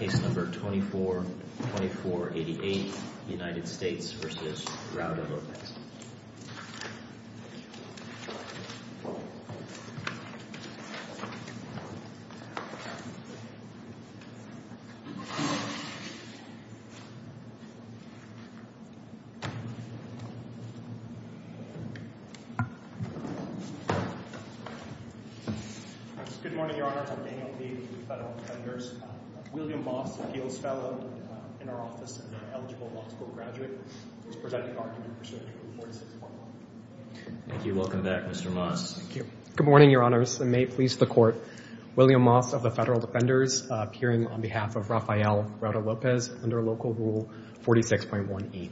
Good morning, Your Honor. I'm Daniel Tate, Federal Attorney for the U.S. Supreme Court. William Moss, appeals fellow in our office and an eligible law school graduate, is presenting argument pursuant to Rule 46.1. Thank you. Welcome back, Mr. Moss. Thank you. Good morning, Your Honors. And may it please the Court, William Moss of the Federal Defenders appearing on behalf of Rafael Rauda-Lopez under Local Rule 46.1e.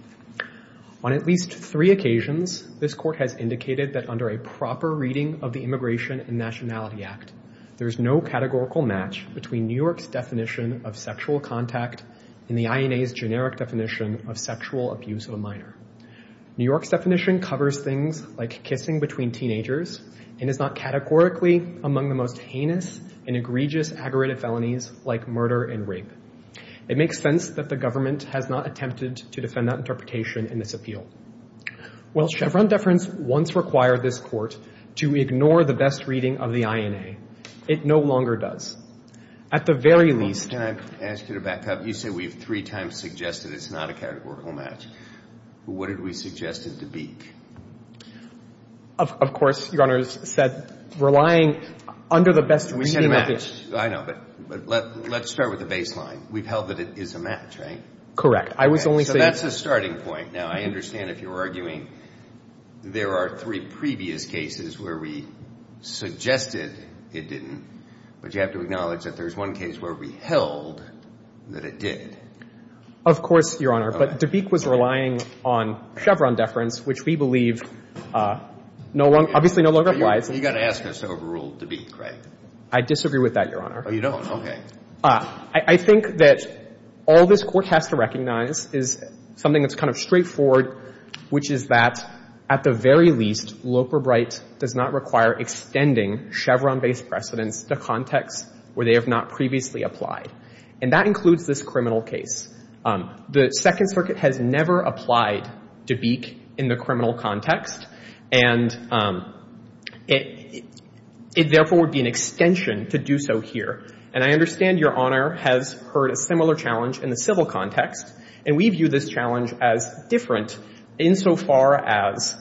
On at least three occasions, this Court has indicated that under a proper reading of the Immigration and Nationality Act, there is no categorical match between New York's definition of sexual contact and the INA's generic definition of sexual abuse of a minor. New York's definition covers things like kissing between teenagers and is not categorically among the most heinous and egregious aggravated felonies like murder and rape. It makes sense that the government has not attempted to defend that interpretation in this appeal. While Chevron deference once required this Court to ignore the best reading of the INA, it no longer does. At the very least — Can I ask you to back up? You say we've three times suggested it's not a categorical match. What did we suggest it to be? Of course, Your Honors, said relying under the best reading of the — We said a match. I know. But let's start with the baseline. We've held that it is a match, right? Correct. I was only saying — So that's a starting point. Now, I understand if you're arguing there are three previous cases where we suggested it didn't, but you have to acknowledge that there's one case where we held that it did. Of course, Your Honor. But Dabeek was relying on Chevron deference, which we believe no longer — obviously no longer applies. You've got to ask us to overrule Dabeek, right? I disagree with that, Your Honor. Oh, you don't? Okay. I think that all this Court has to recognize is something that's kind of straightforward, which is that at the very least, Loper-Bright does not require extending Chevron-based precedents to contexts where they have not previously applied. And that includes this criminal case. The Second Circuit has never applied Dabeek in the criminal context, and it therefore would be an extension to do so here. And I understand Your Honor has heard a similar challenge in the civil context, and we view this challenge as different insofar as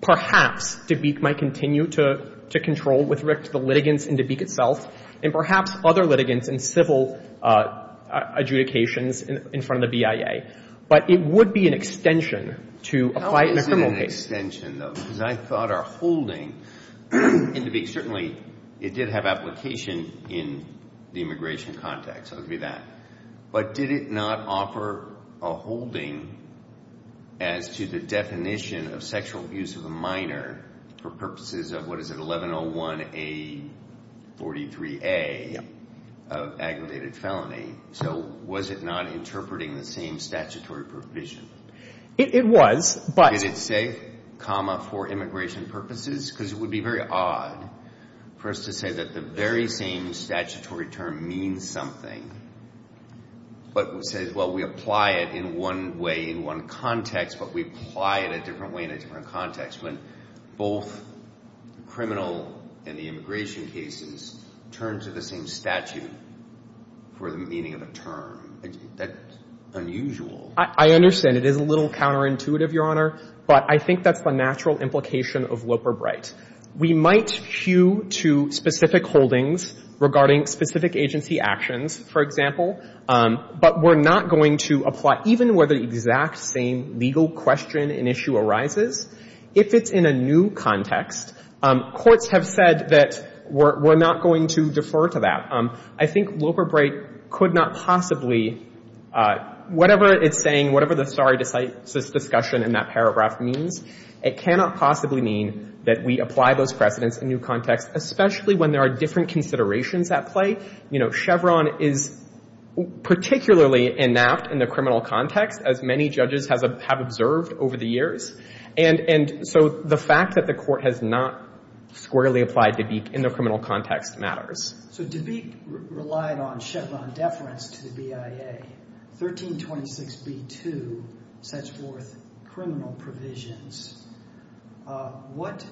perhaps Dabeek might continue to control with respect to the litigants in Dabeek itself, and perhaps other litigants in civil adjudications in front of the BIA. But it would be an extension to apply it in a criminal case. How is it an extension, though? Because I thought our holding in Dabeek — certainly it did have application in the immigration context, so it would be that. But did it not offer a holding as to the definition of sexual abuse of a minor for purposes of, what is it, 1101A43A of aggravated felony? So was it not interpreting the same statutory provision? It was, but — Did it say comma for immigration purposes? Because it would be very odd for us to say that the very same statutory term means something, but would say, well, we apply it in one way in one context, but we apply it a different way in a different context when both the criminal and the immigration cases turn to the same statute for the meaning of a term. That's unusual. I understand. It is a little counterintuitive, Your Honor, but I think that's the natural implication of Loper-Bright. We might hew to specific holdings regarding specific agency actions, for example, but we're not going to apply — even where the exact same legal question and issue arises, if it's in a new context. Courts have said that we're not going to defer to that. I think Loper-Bright could not possibly — whatever it's saying, whatever the sorry discussion in that paragraph means, it cannot possibly mean that we apply those precedents in new contexts, especially when there are different considerations at play. You know, Chevron is particularly inapt in the criminal context, as many judges have observed over the years. And so the fact that the Court has not squarely applied Dabeek in the criminal context matters. So Dabeek relied on Chevron deference to the BIA. 1326b2 sets forth criminal provisions. What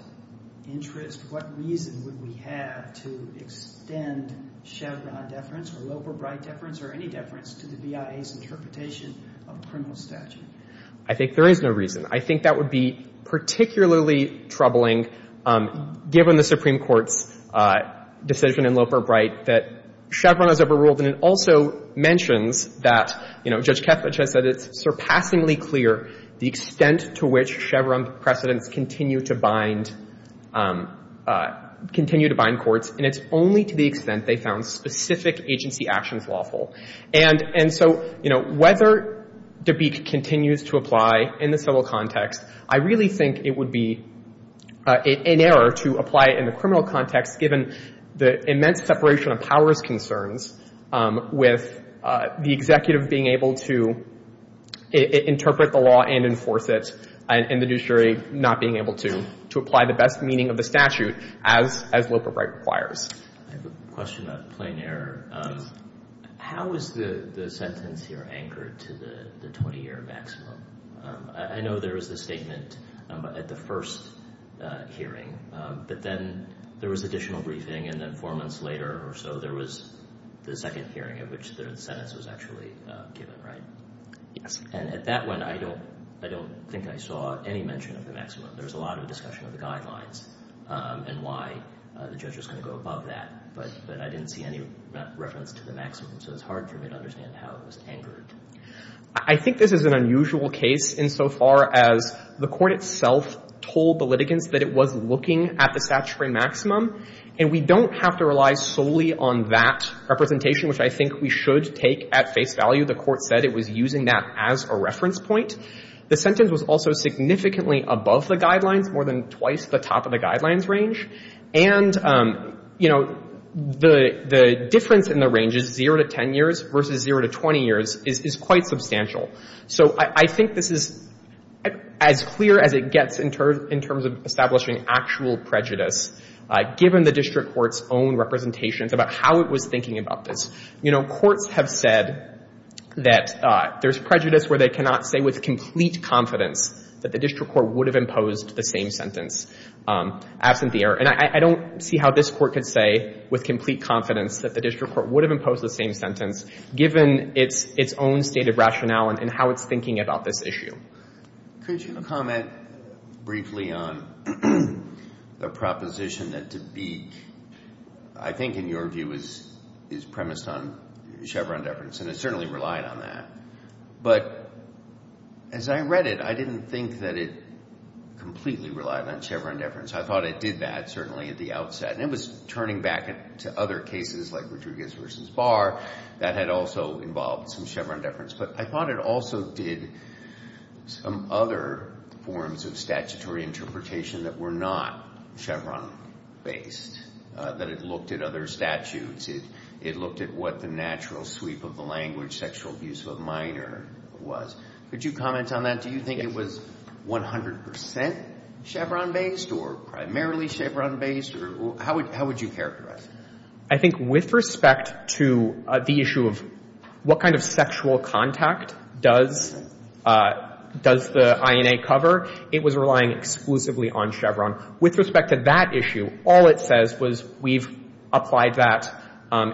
interest, what reason would we have to extend Chevron deference or Loper-Bright deference or any deference to the BIA's interpretation of a criminal statute? I think there is no reason. I think that would be particularly troubling, given the Supreme Court's decision in Loper-Bright that Chevron has overruled. And it also mentions that, you know, Judge Kethledge has said it's surpassingly clear the extent to which Chevron precedents continue to bind — continue to bind courts, and it's only to the extent they found specific agency actions lawful. And so, you know, whether Dabeek continues to apply in the civil context, I really think it would be in error to apply it in the criminal context, given the immense separation of powers concerns with the executive being able to interpret the law and enforce it, and the judiciary not being able to apply the best meaning of the statute as Loper-Bright requires. I have a question of plain error. How is the sentence here anchored to the 20-year maximum? I know there was a statement at the first hearing, but then there was additional briefing, and then four months later or so, there was the second hearing, at which the sentence was actually given, right? Yes. And at that one, I don't — I don't think I saw any mention of the maximum. There was a lot of discussion of the guidelines and why the judge was going to go above that, but I didn't see any reference to the maximum. So it's hard for me to understand how it was anchored. I think this is an unusual case insofar as the court itself told the litigants that it was looking at the statutory maximum, and we don't have to rely solely on that representation, which I think we should take at face value. The court said it was using that as a reference point. The sentence was also significantly above the guidelines, more than twice the top of the guidelines range. And, you know, the difference in the range is zero to 10 years versus zero to 20 years is quite substantial. So I think this is as clear as it gets in terms of establishing actual prejudice, given the district court's own representations about how it was thinking about this. You know, courts have said that there's prejudice where they cannot say with complete confidence that the district court would have imposed the same sentence absent the error. And I don't see how this court could say with complete confidence that the district court would have imposed the same sentence, given its own state of rationale and how it's thinking about this issue. Could you comment briefly on the proposition that Dubique, I think in your view, is premised on Chevron deference, and it certainly relied on that. But as I read it, I didn't think that it completely relied on Chevron deference. I thought it did that, certainly, at the outset. And it was turning back to other cases like Rodriguez v. Barr that had also involved some Chevron deference. But I thought it also did some other forms of statutory interpretation that were not Chevron-based, that it looked at other statutes. It looked at what the natural sweep of the language sexual abuse of a minor was. Could you comment on that? Do you think it was 100 percent Chevron-based or primarily Chevron-based? How would you characterize it? I think with respect to the issue of what kind of sexual contact does the INA cover, it was relying exclusively on Chevron. With respect to that issue, all it says was, we've applied that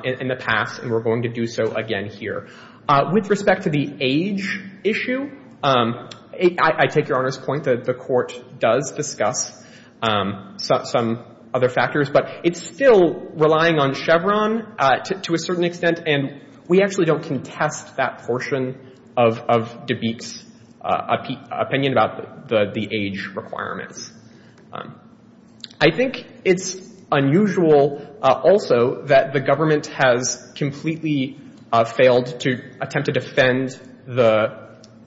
in the past and we're going to do so again here. With respect to the age issue, I take Your Honor's point that the court does discuss some other factors, but it's still relying on Chevron to a certain extent. And we actually don't contest that portion of DeBate's opinion about the age requirements. I think it's unusual also that the government has completely failed to attempt to defend the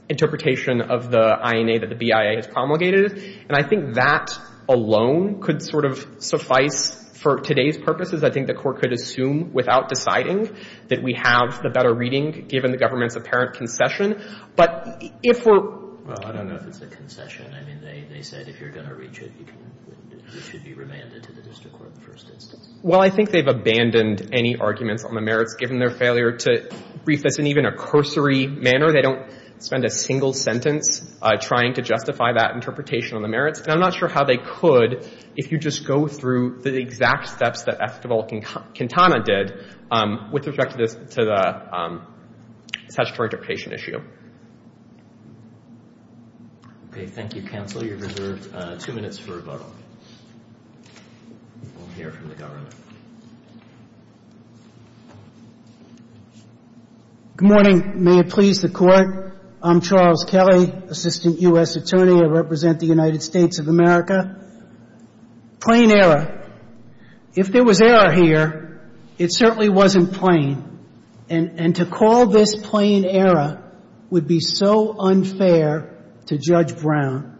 interpretation of the INA that the BIA has promulgated. And I think that is a concern. I think that the merits alone could sort of suffice for today's purposes. I think the court could assume without deciding that we have the better reading given the government's apparent concession. But if we're... Well, I don't know if it's a concession. I mean, they said if you're going to reach it, you should be remanded to the district court in the first instance. Well, I think they've abandoned any arguments on the merits given their failure to brief this in even a cursory manner. They don't spend a single sentence trying to justify that interpretation on the merits. And I'm not sure how they could if you just go through the exact steps that Esquivel and Quintana did with respect to the statutory interpretation issue. Okay. Thank you, counsel. You're reserved two minutes for rebuttal. We'll hear from the government. Good morning. May it please the Court. I'm Charles Kelly, Assistant U.S. Attorney. I represent the United States of America. Plain error. If there was error here, it certainly wasn't plain. And to call this plain error would be so unfair to Judge Brown.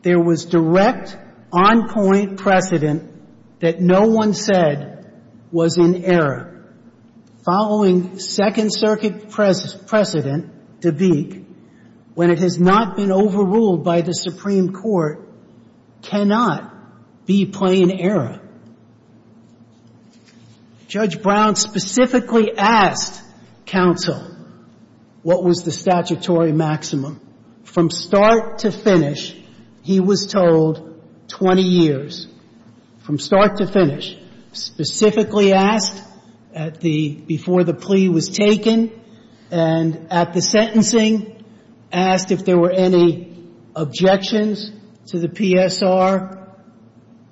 There was direct, on-point precedent that no one said was in error. Following Second Circuit precedent, De Beek, when it has not been overruled by the Supreme Court, cannot be plain error. Judge Brown specifically asked counsel what was the statutory maximum. From start to finish, he was told 20 years. From start to finish. Specifically asked before the plea was taken and at the sentencing, asked if there were any objections to the PSR,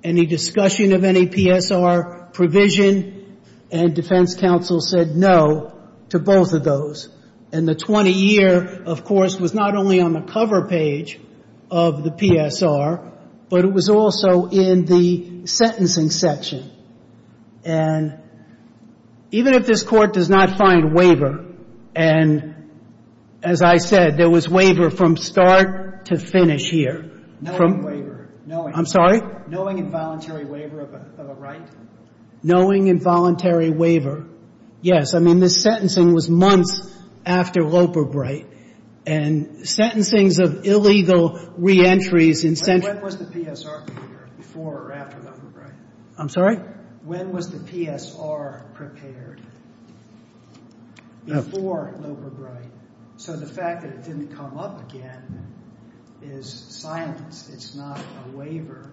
any discussion of any PSR provision, and defense counsel said no to both of those. And the 20-year, of course, was not only on the cover page of the PSR, but it was also in the sentencing section. And even if this Court does not find waiver, and as I said, there was waiver from start to finish here. Knowing waiver. I'm sorry? Knowing involuntary waiver of a right? Knowing involuntary waiver. Yes. I mean, this sentencing was months after Loperbright. And sentencings of illegal reentries in sentencing... When was the PSR prepared before or after Loperbright? I'm sorry? When was the PSR prepared before Loperbright? So the fact that it didn't come up again is silence. It's not a waiver.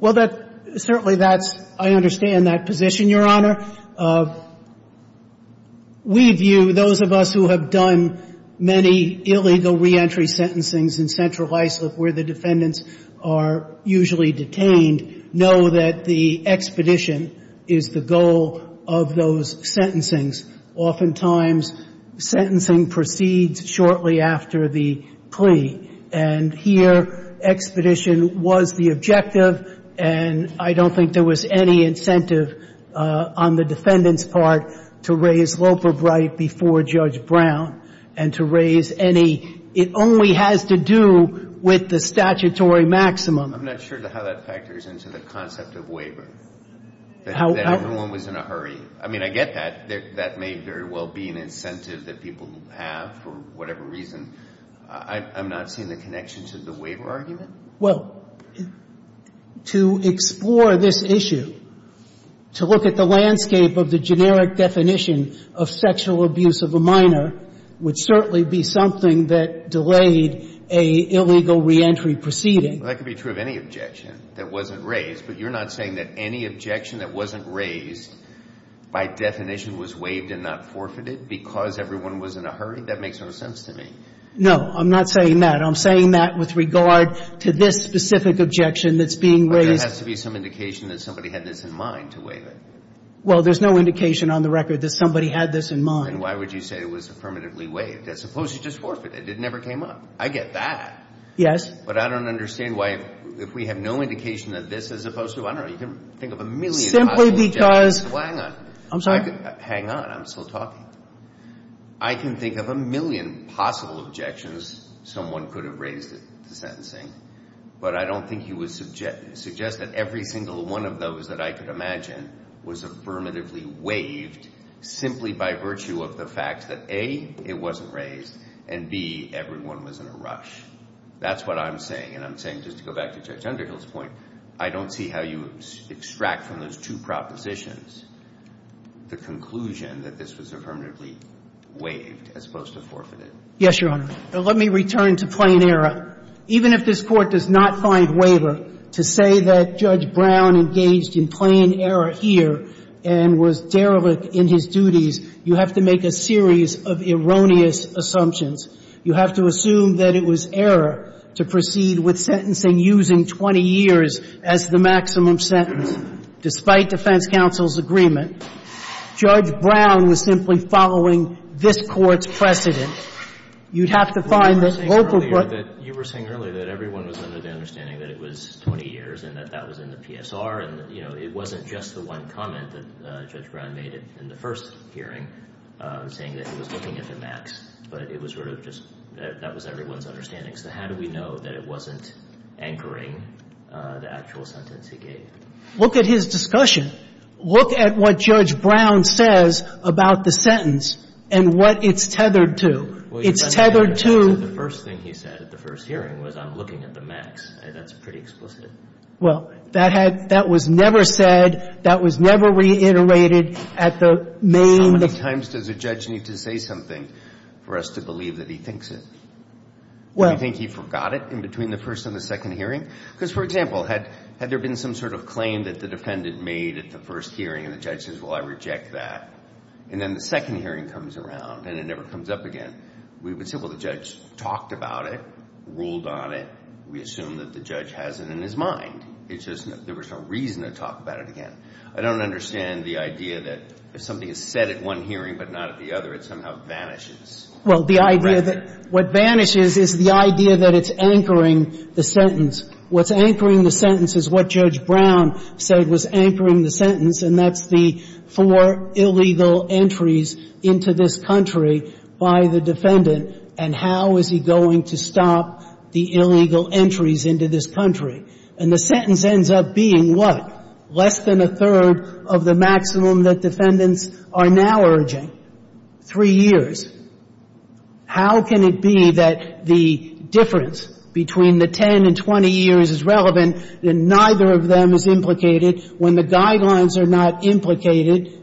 Well, that certainly that's, I understand that position, Your Honor. We view, those of us who have done many illegal reentry sentencings in central Iceland where the defendants are usually detained, know that the expedition is the goal of those sentencings. Oftentimes, sentencing proceeds shortly after the plea. And here, expedition was the objective, and I don't think there was any incentive on the defendant's part to raise Loperbright before Judge Brown and to raise any. It only has to do with the statutory maximum. I'm not sure how that factors into the concept of waiver, that everyone was in a hurry. I mean, I get that. That may very well be an incentive that people have for whatever reason. I'm not seeing the connection to the waiver argument. Well, to explore this issue, to look at the landscape of the generic definition of sexual abuse of a minor would certainly be something that delayed an illegal reentry proceeding. Well, that could be true of any objection that wasn't raised, but you're not saying that any objection that wasn't raised by definition was waived and not forfeited because everyone was in a hurry? That makes no sense to me. No, I'm not saying that. I'm saying that with regard to this specific objection that's being raised. But there has to be some indication that somebody had this in mind to waive it. Well, there's no indication on the record that somebody had this in mind. And why would you say it was affirmatively waived? As opposed to just forfeited. It never came up. I get that. Yes. But I don't understand why, if we have no indication that this is opposed to, I don't know, you can think of a million possible objections. Simply because. Hang on. I'm sorry? Hang on. I'm still talking. I can think of a million possible objections someone could have raised at the sentencing, but I don't think he would suggest that every single one of those that I could imagine was affirmatively waived simply by virtue of the fact that, A, it wasn't raised, and, B, everyone was in a rush. That's what I'm saying. And I'm saying, just to go back to Judge Underhill's point, I don't see how you extract from those two propositions the conclusion that this was affirmatively waived as opposed to forfeited. Yes, Your Honor. Let me return to plain error. Even if this Court does not find waiver to say that Judge Brown engaged in plain error here and was derelict in his duties, you have to make a series of erroneous assumptions. You have to assume that it was error to proceed with sentencing using 20 years as the maximum sentence, despite defense counsel's agreement. Judge Brown was simply following this Court's precedent. You'd have to find that local court You were saying earlier that everyone was under the understanding that it was 20 years and that that was in the PSR, and, you know, it wasn't just the one comment that Judge Brown made in the first hearing, saying that he was looking at the max, but it was sort of just that that was everyone's understanding. So how do we know that it wasn't anchoring the actual sentence he gave? Look at his discussion. Look at what Judge Brown says about the sentence and what it's tethered to. It's tethered to The first thing he said at the first hearing was, I'm looking at the max. That's pretty explicit. Well, that was never said. That was never reiterated at the main How many times does a judge need to say something for us to believe that he thinks it? Do you think he forgot it in between the first and the second hearing? Because, for example, had there been some sort of claim that the defendant made at the first hearing and the judge says, well, I reject that, and then the second hearing comes around and it never comes up again, we would say, well, the judge talked about it, ruled on it. We assume that the judge has it in his mind. It's just that there was no reason to talk about it again. I don't understand the idea that if something is said at one hearing but not at the other, it somehow vanishes. Well, the idea that what vanishes is the idea that it's anchoring the sentence. What's anchoring the sentence is what Judge Brown said was anchoring the sentence, and that's the four illegal entries into this country by the defendant. And how is he going to stop the illegal entries into this country? And the sentence ends up being what? Less than a third of the maximum that defendants are now urging. Three years. How can it be that the difference between the 10 and 20 years is relevant and neither of them is implicated when the guidelines are not implicated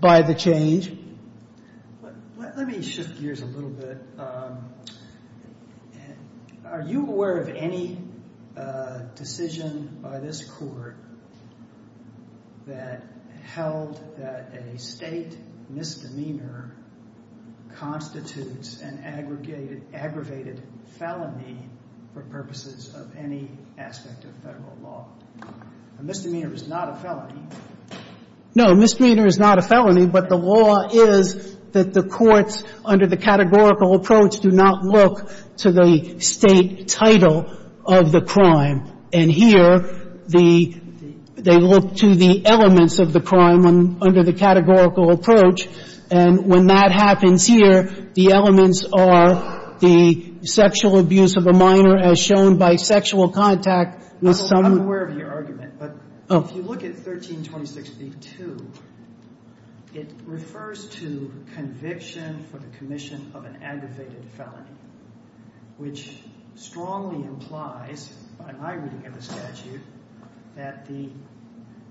by the change? Let me shift gears a little bit. Are you aware of any, you know, any case where the judge made a decision by this court that held that a state misdemeanor constitutes an aggravated felony for purposes of any aspect of federal law? A misdemeanor is not a felony. No, a misdemeanor is not a felony, but the law is that the courts under the categorical approach do not look to the state title of the crime. And here, the they look to the elements of the crime under the categorical approach. And when that happens here, the elements are the sexual abuse of a minor as shown by sexual contact with some. I'm aware of your argument, but if you look at 1326b-2, it refers to conviction for the commission of an aggravated felony, which strongly implies, by my reading of the statute, that the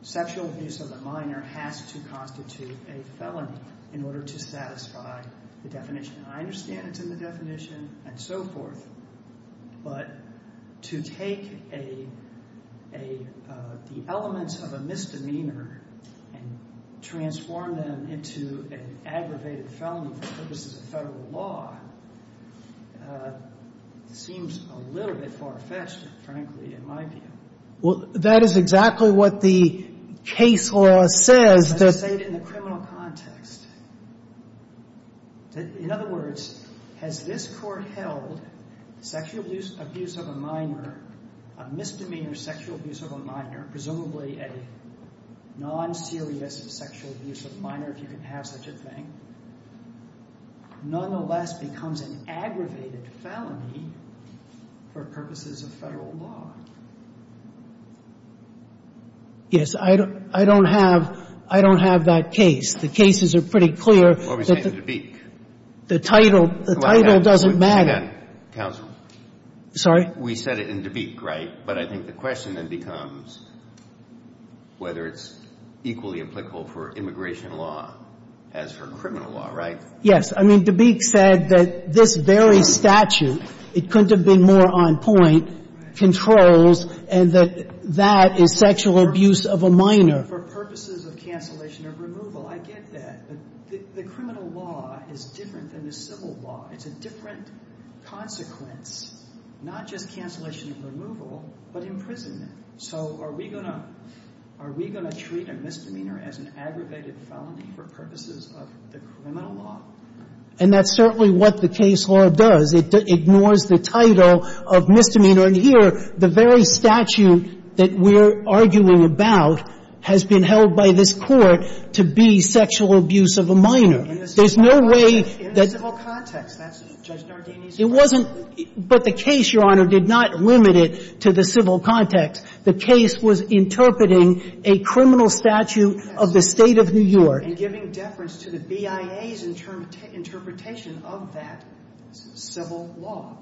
sexual abuse of a minor has to constitute a felony in order to satisfy the definition. I understand it's in the definition and so forth, but to take the elements of a misdemeanor and transform them into an aggravated felony for purposes of federal law seems a little bit far-fetched. Well, that is exactly what the case law says. In other words, has this Court held sexual abuse of a minor, a misdemeanor sexual abuse of a minor, presumably a non-serious sexual abuse of a minor if you can have such a thing, nonetheless becomes an aggravated felony for purposes of federal law? Yes. I don't have that case. The cases are pretty clear. What are we saying in Dubik? The title doesn't matter. Hang on, counsel. Sorry? We said it in Dubik, right? But I think the question then becomes whether it's equally applicable for immigration law as for criminal law, right? Yes. I mean, Dubik said that this very statute, it couldn't have been more on point, controls and that that is sexual abuse of a minor. For purposes of cancellation of removal. I get that. But the criminal law is different than the civil law. It's a different consequence, not just cancellation of removal, but imprisonment. So are we going to treat a misdemeanor as an aggravated felony for purposes of the criminal law? And that's certainly what the case law does. It ignores the title of misdemeanor. And here, the very statute that we're arguing about has been held by this Court to be sexual abuse of a minor. In the civil context. That's Judge Nardini's argument. But the case, Your Honor, did not limit it to the civil context. The case was interpreting a criminal statute of the State of New York. And giving deference to the BIA's interpretation of that civil law.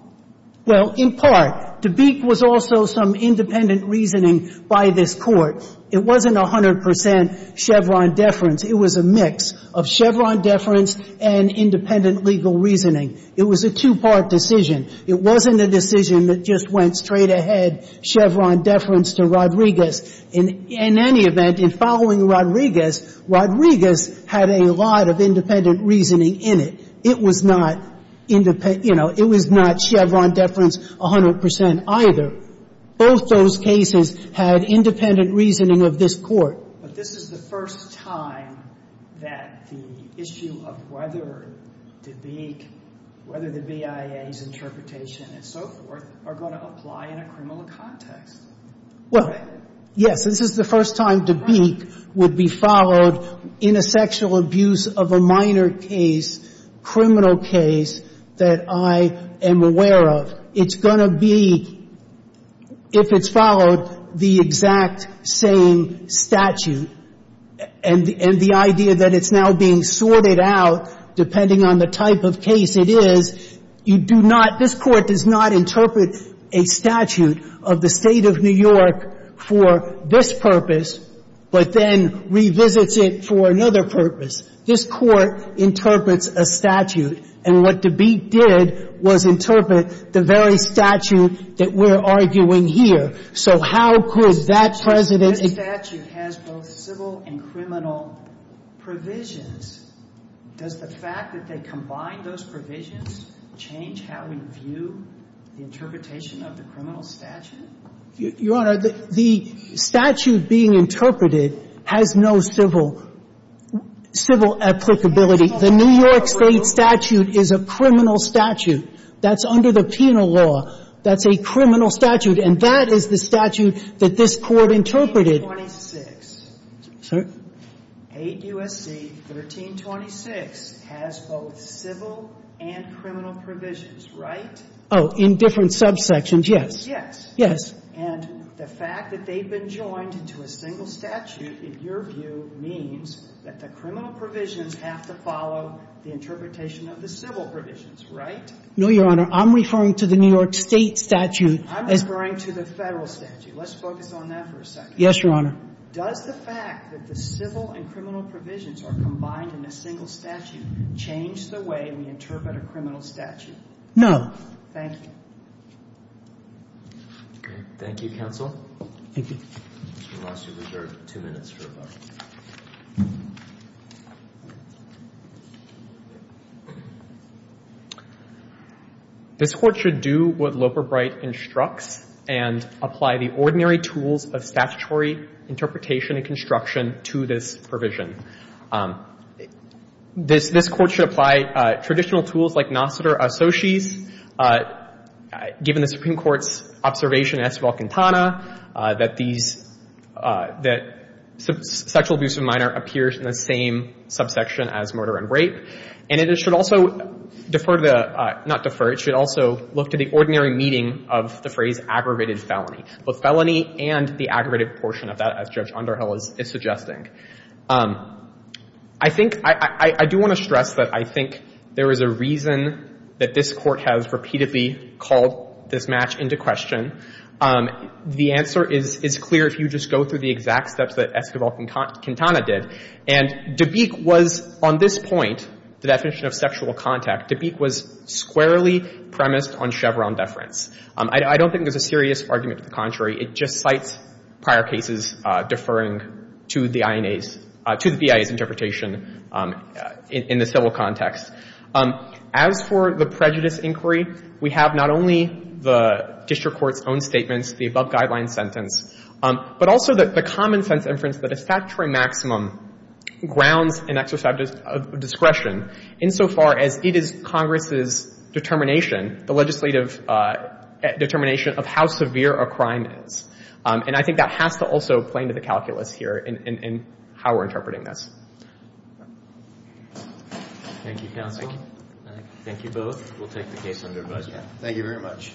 Well, in part. Dubik was also some independent reasoning by this Court. It wasn't 100 percent Chevron deference. It was a mix of Chevron deference and independent legal reasoning. It was a two-part decision. It wasn't a decision that just went straight ahead. Chevron deference to Rodriguez. In any event, in following Rodriguez, Rodriguez had a lot of independent reasoning in it. It was not, you know, it was not Chevron deference 100 percent either. Both those cases had independent reasoning of this Court. But this is the first time that the issue of whether Dubik, whether the BIA's interpretation and so forth, are going to apply in a criminal context. Well, yes. This is the first time Dubik would be followed in a sexual abuse of a minor case, criminal case, that I am aware of. It's going to be, if it's followed, the exact same statute. And the idea that it's now being sorted out, depending on the type of case it is, you do not, this Court does not interpret a statute of the State of New York for this purpose, but then revisits it for another purpose. This Court interprets a statute. And what Dubik did was interpret the very statute that we're arguing here. So how could that President This statute has both civil and criminal provisions. Does the fact that they combine those provisions change how we view the interpretation of the criminal statute? Your Honor, the statute being interpreted has no civil applicability. The New York State statute is a criminal statute. That's under the penal law. That's a criminal statute. And that is the statute that this Court interpreted. Sorry? 8 U.S.C. 1326 has both civil and criminal provisions, right? Oh, in different subsections, yes. Yes. Yes. And the fact that they've been joined into a single statute, in your view, means that the criminal provisions have to follow the interpretation of the civil provisions, right? No, Your Honor. I'm referring to the New York State statute. I'm referring to the Federal statute. Let's focus on that for a second. Yes, Your Honor. Does the fact that the civil and criminal provisions are combined in a single statute change the way we interpret a criminal statute? No. Thank you. Thank you, counsel. Thank you. Mr. Ross, you're reserved two minutes for rebuttal. This Court should do what Loper-Bright instructs and apply the ordinary tools of statutory interpretation and construction to this provision. This Court should apply traditional tools like nocitor associes. Given the Supreme Court's observation in Esteval-Quintana that these – that sexual abuse of a minor appears in the same subsection as murder and rape. And it should also defer the – not defer. It should also look to the ordinary meeting of the phrase aggravated felony, both felony and the aggravated portion of that, as Judge Underhill is suggesting. I think – I do want to stress that I think there is a reason that this Court has repeatedly called this match into question. The answer is clear if you just go through the exact steps that Esteval-Quintana did. And De Beek was, on this point, the definition of sexual contact, De Beek was squarely premised on Chevron deference. I don't think there's a serious argument to the contrary. It just cites prior cases deferring to the INA's – to the BIA's interpretation in the civil context. As for the prejudice inquiry, we have not only the district court's own statements, the above-guideline sentence, but also the common-sense inference that a statutory maximum grounds an exercise of discretion insofar as it is Congress's determination, the legislative determination of how severe a crime is. And I think that has to also play into the calculus here in how we're interpreting this. Thank you, counsel. Thank you both. We'll take the case under advisory. Thank you very much.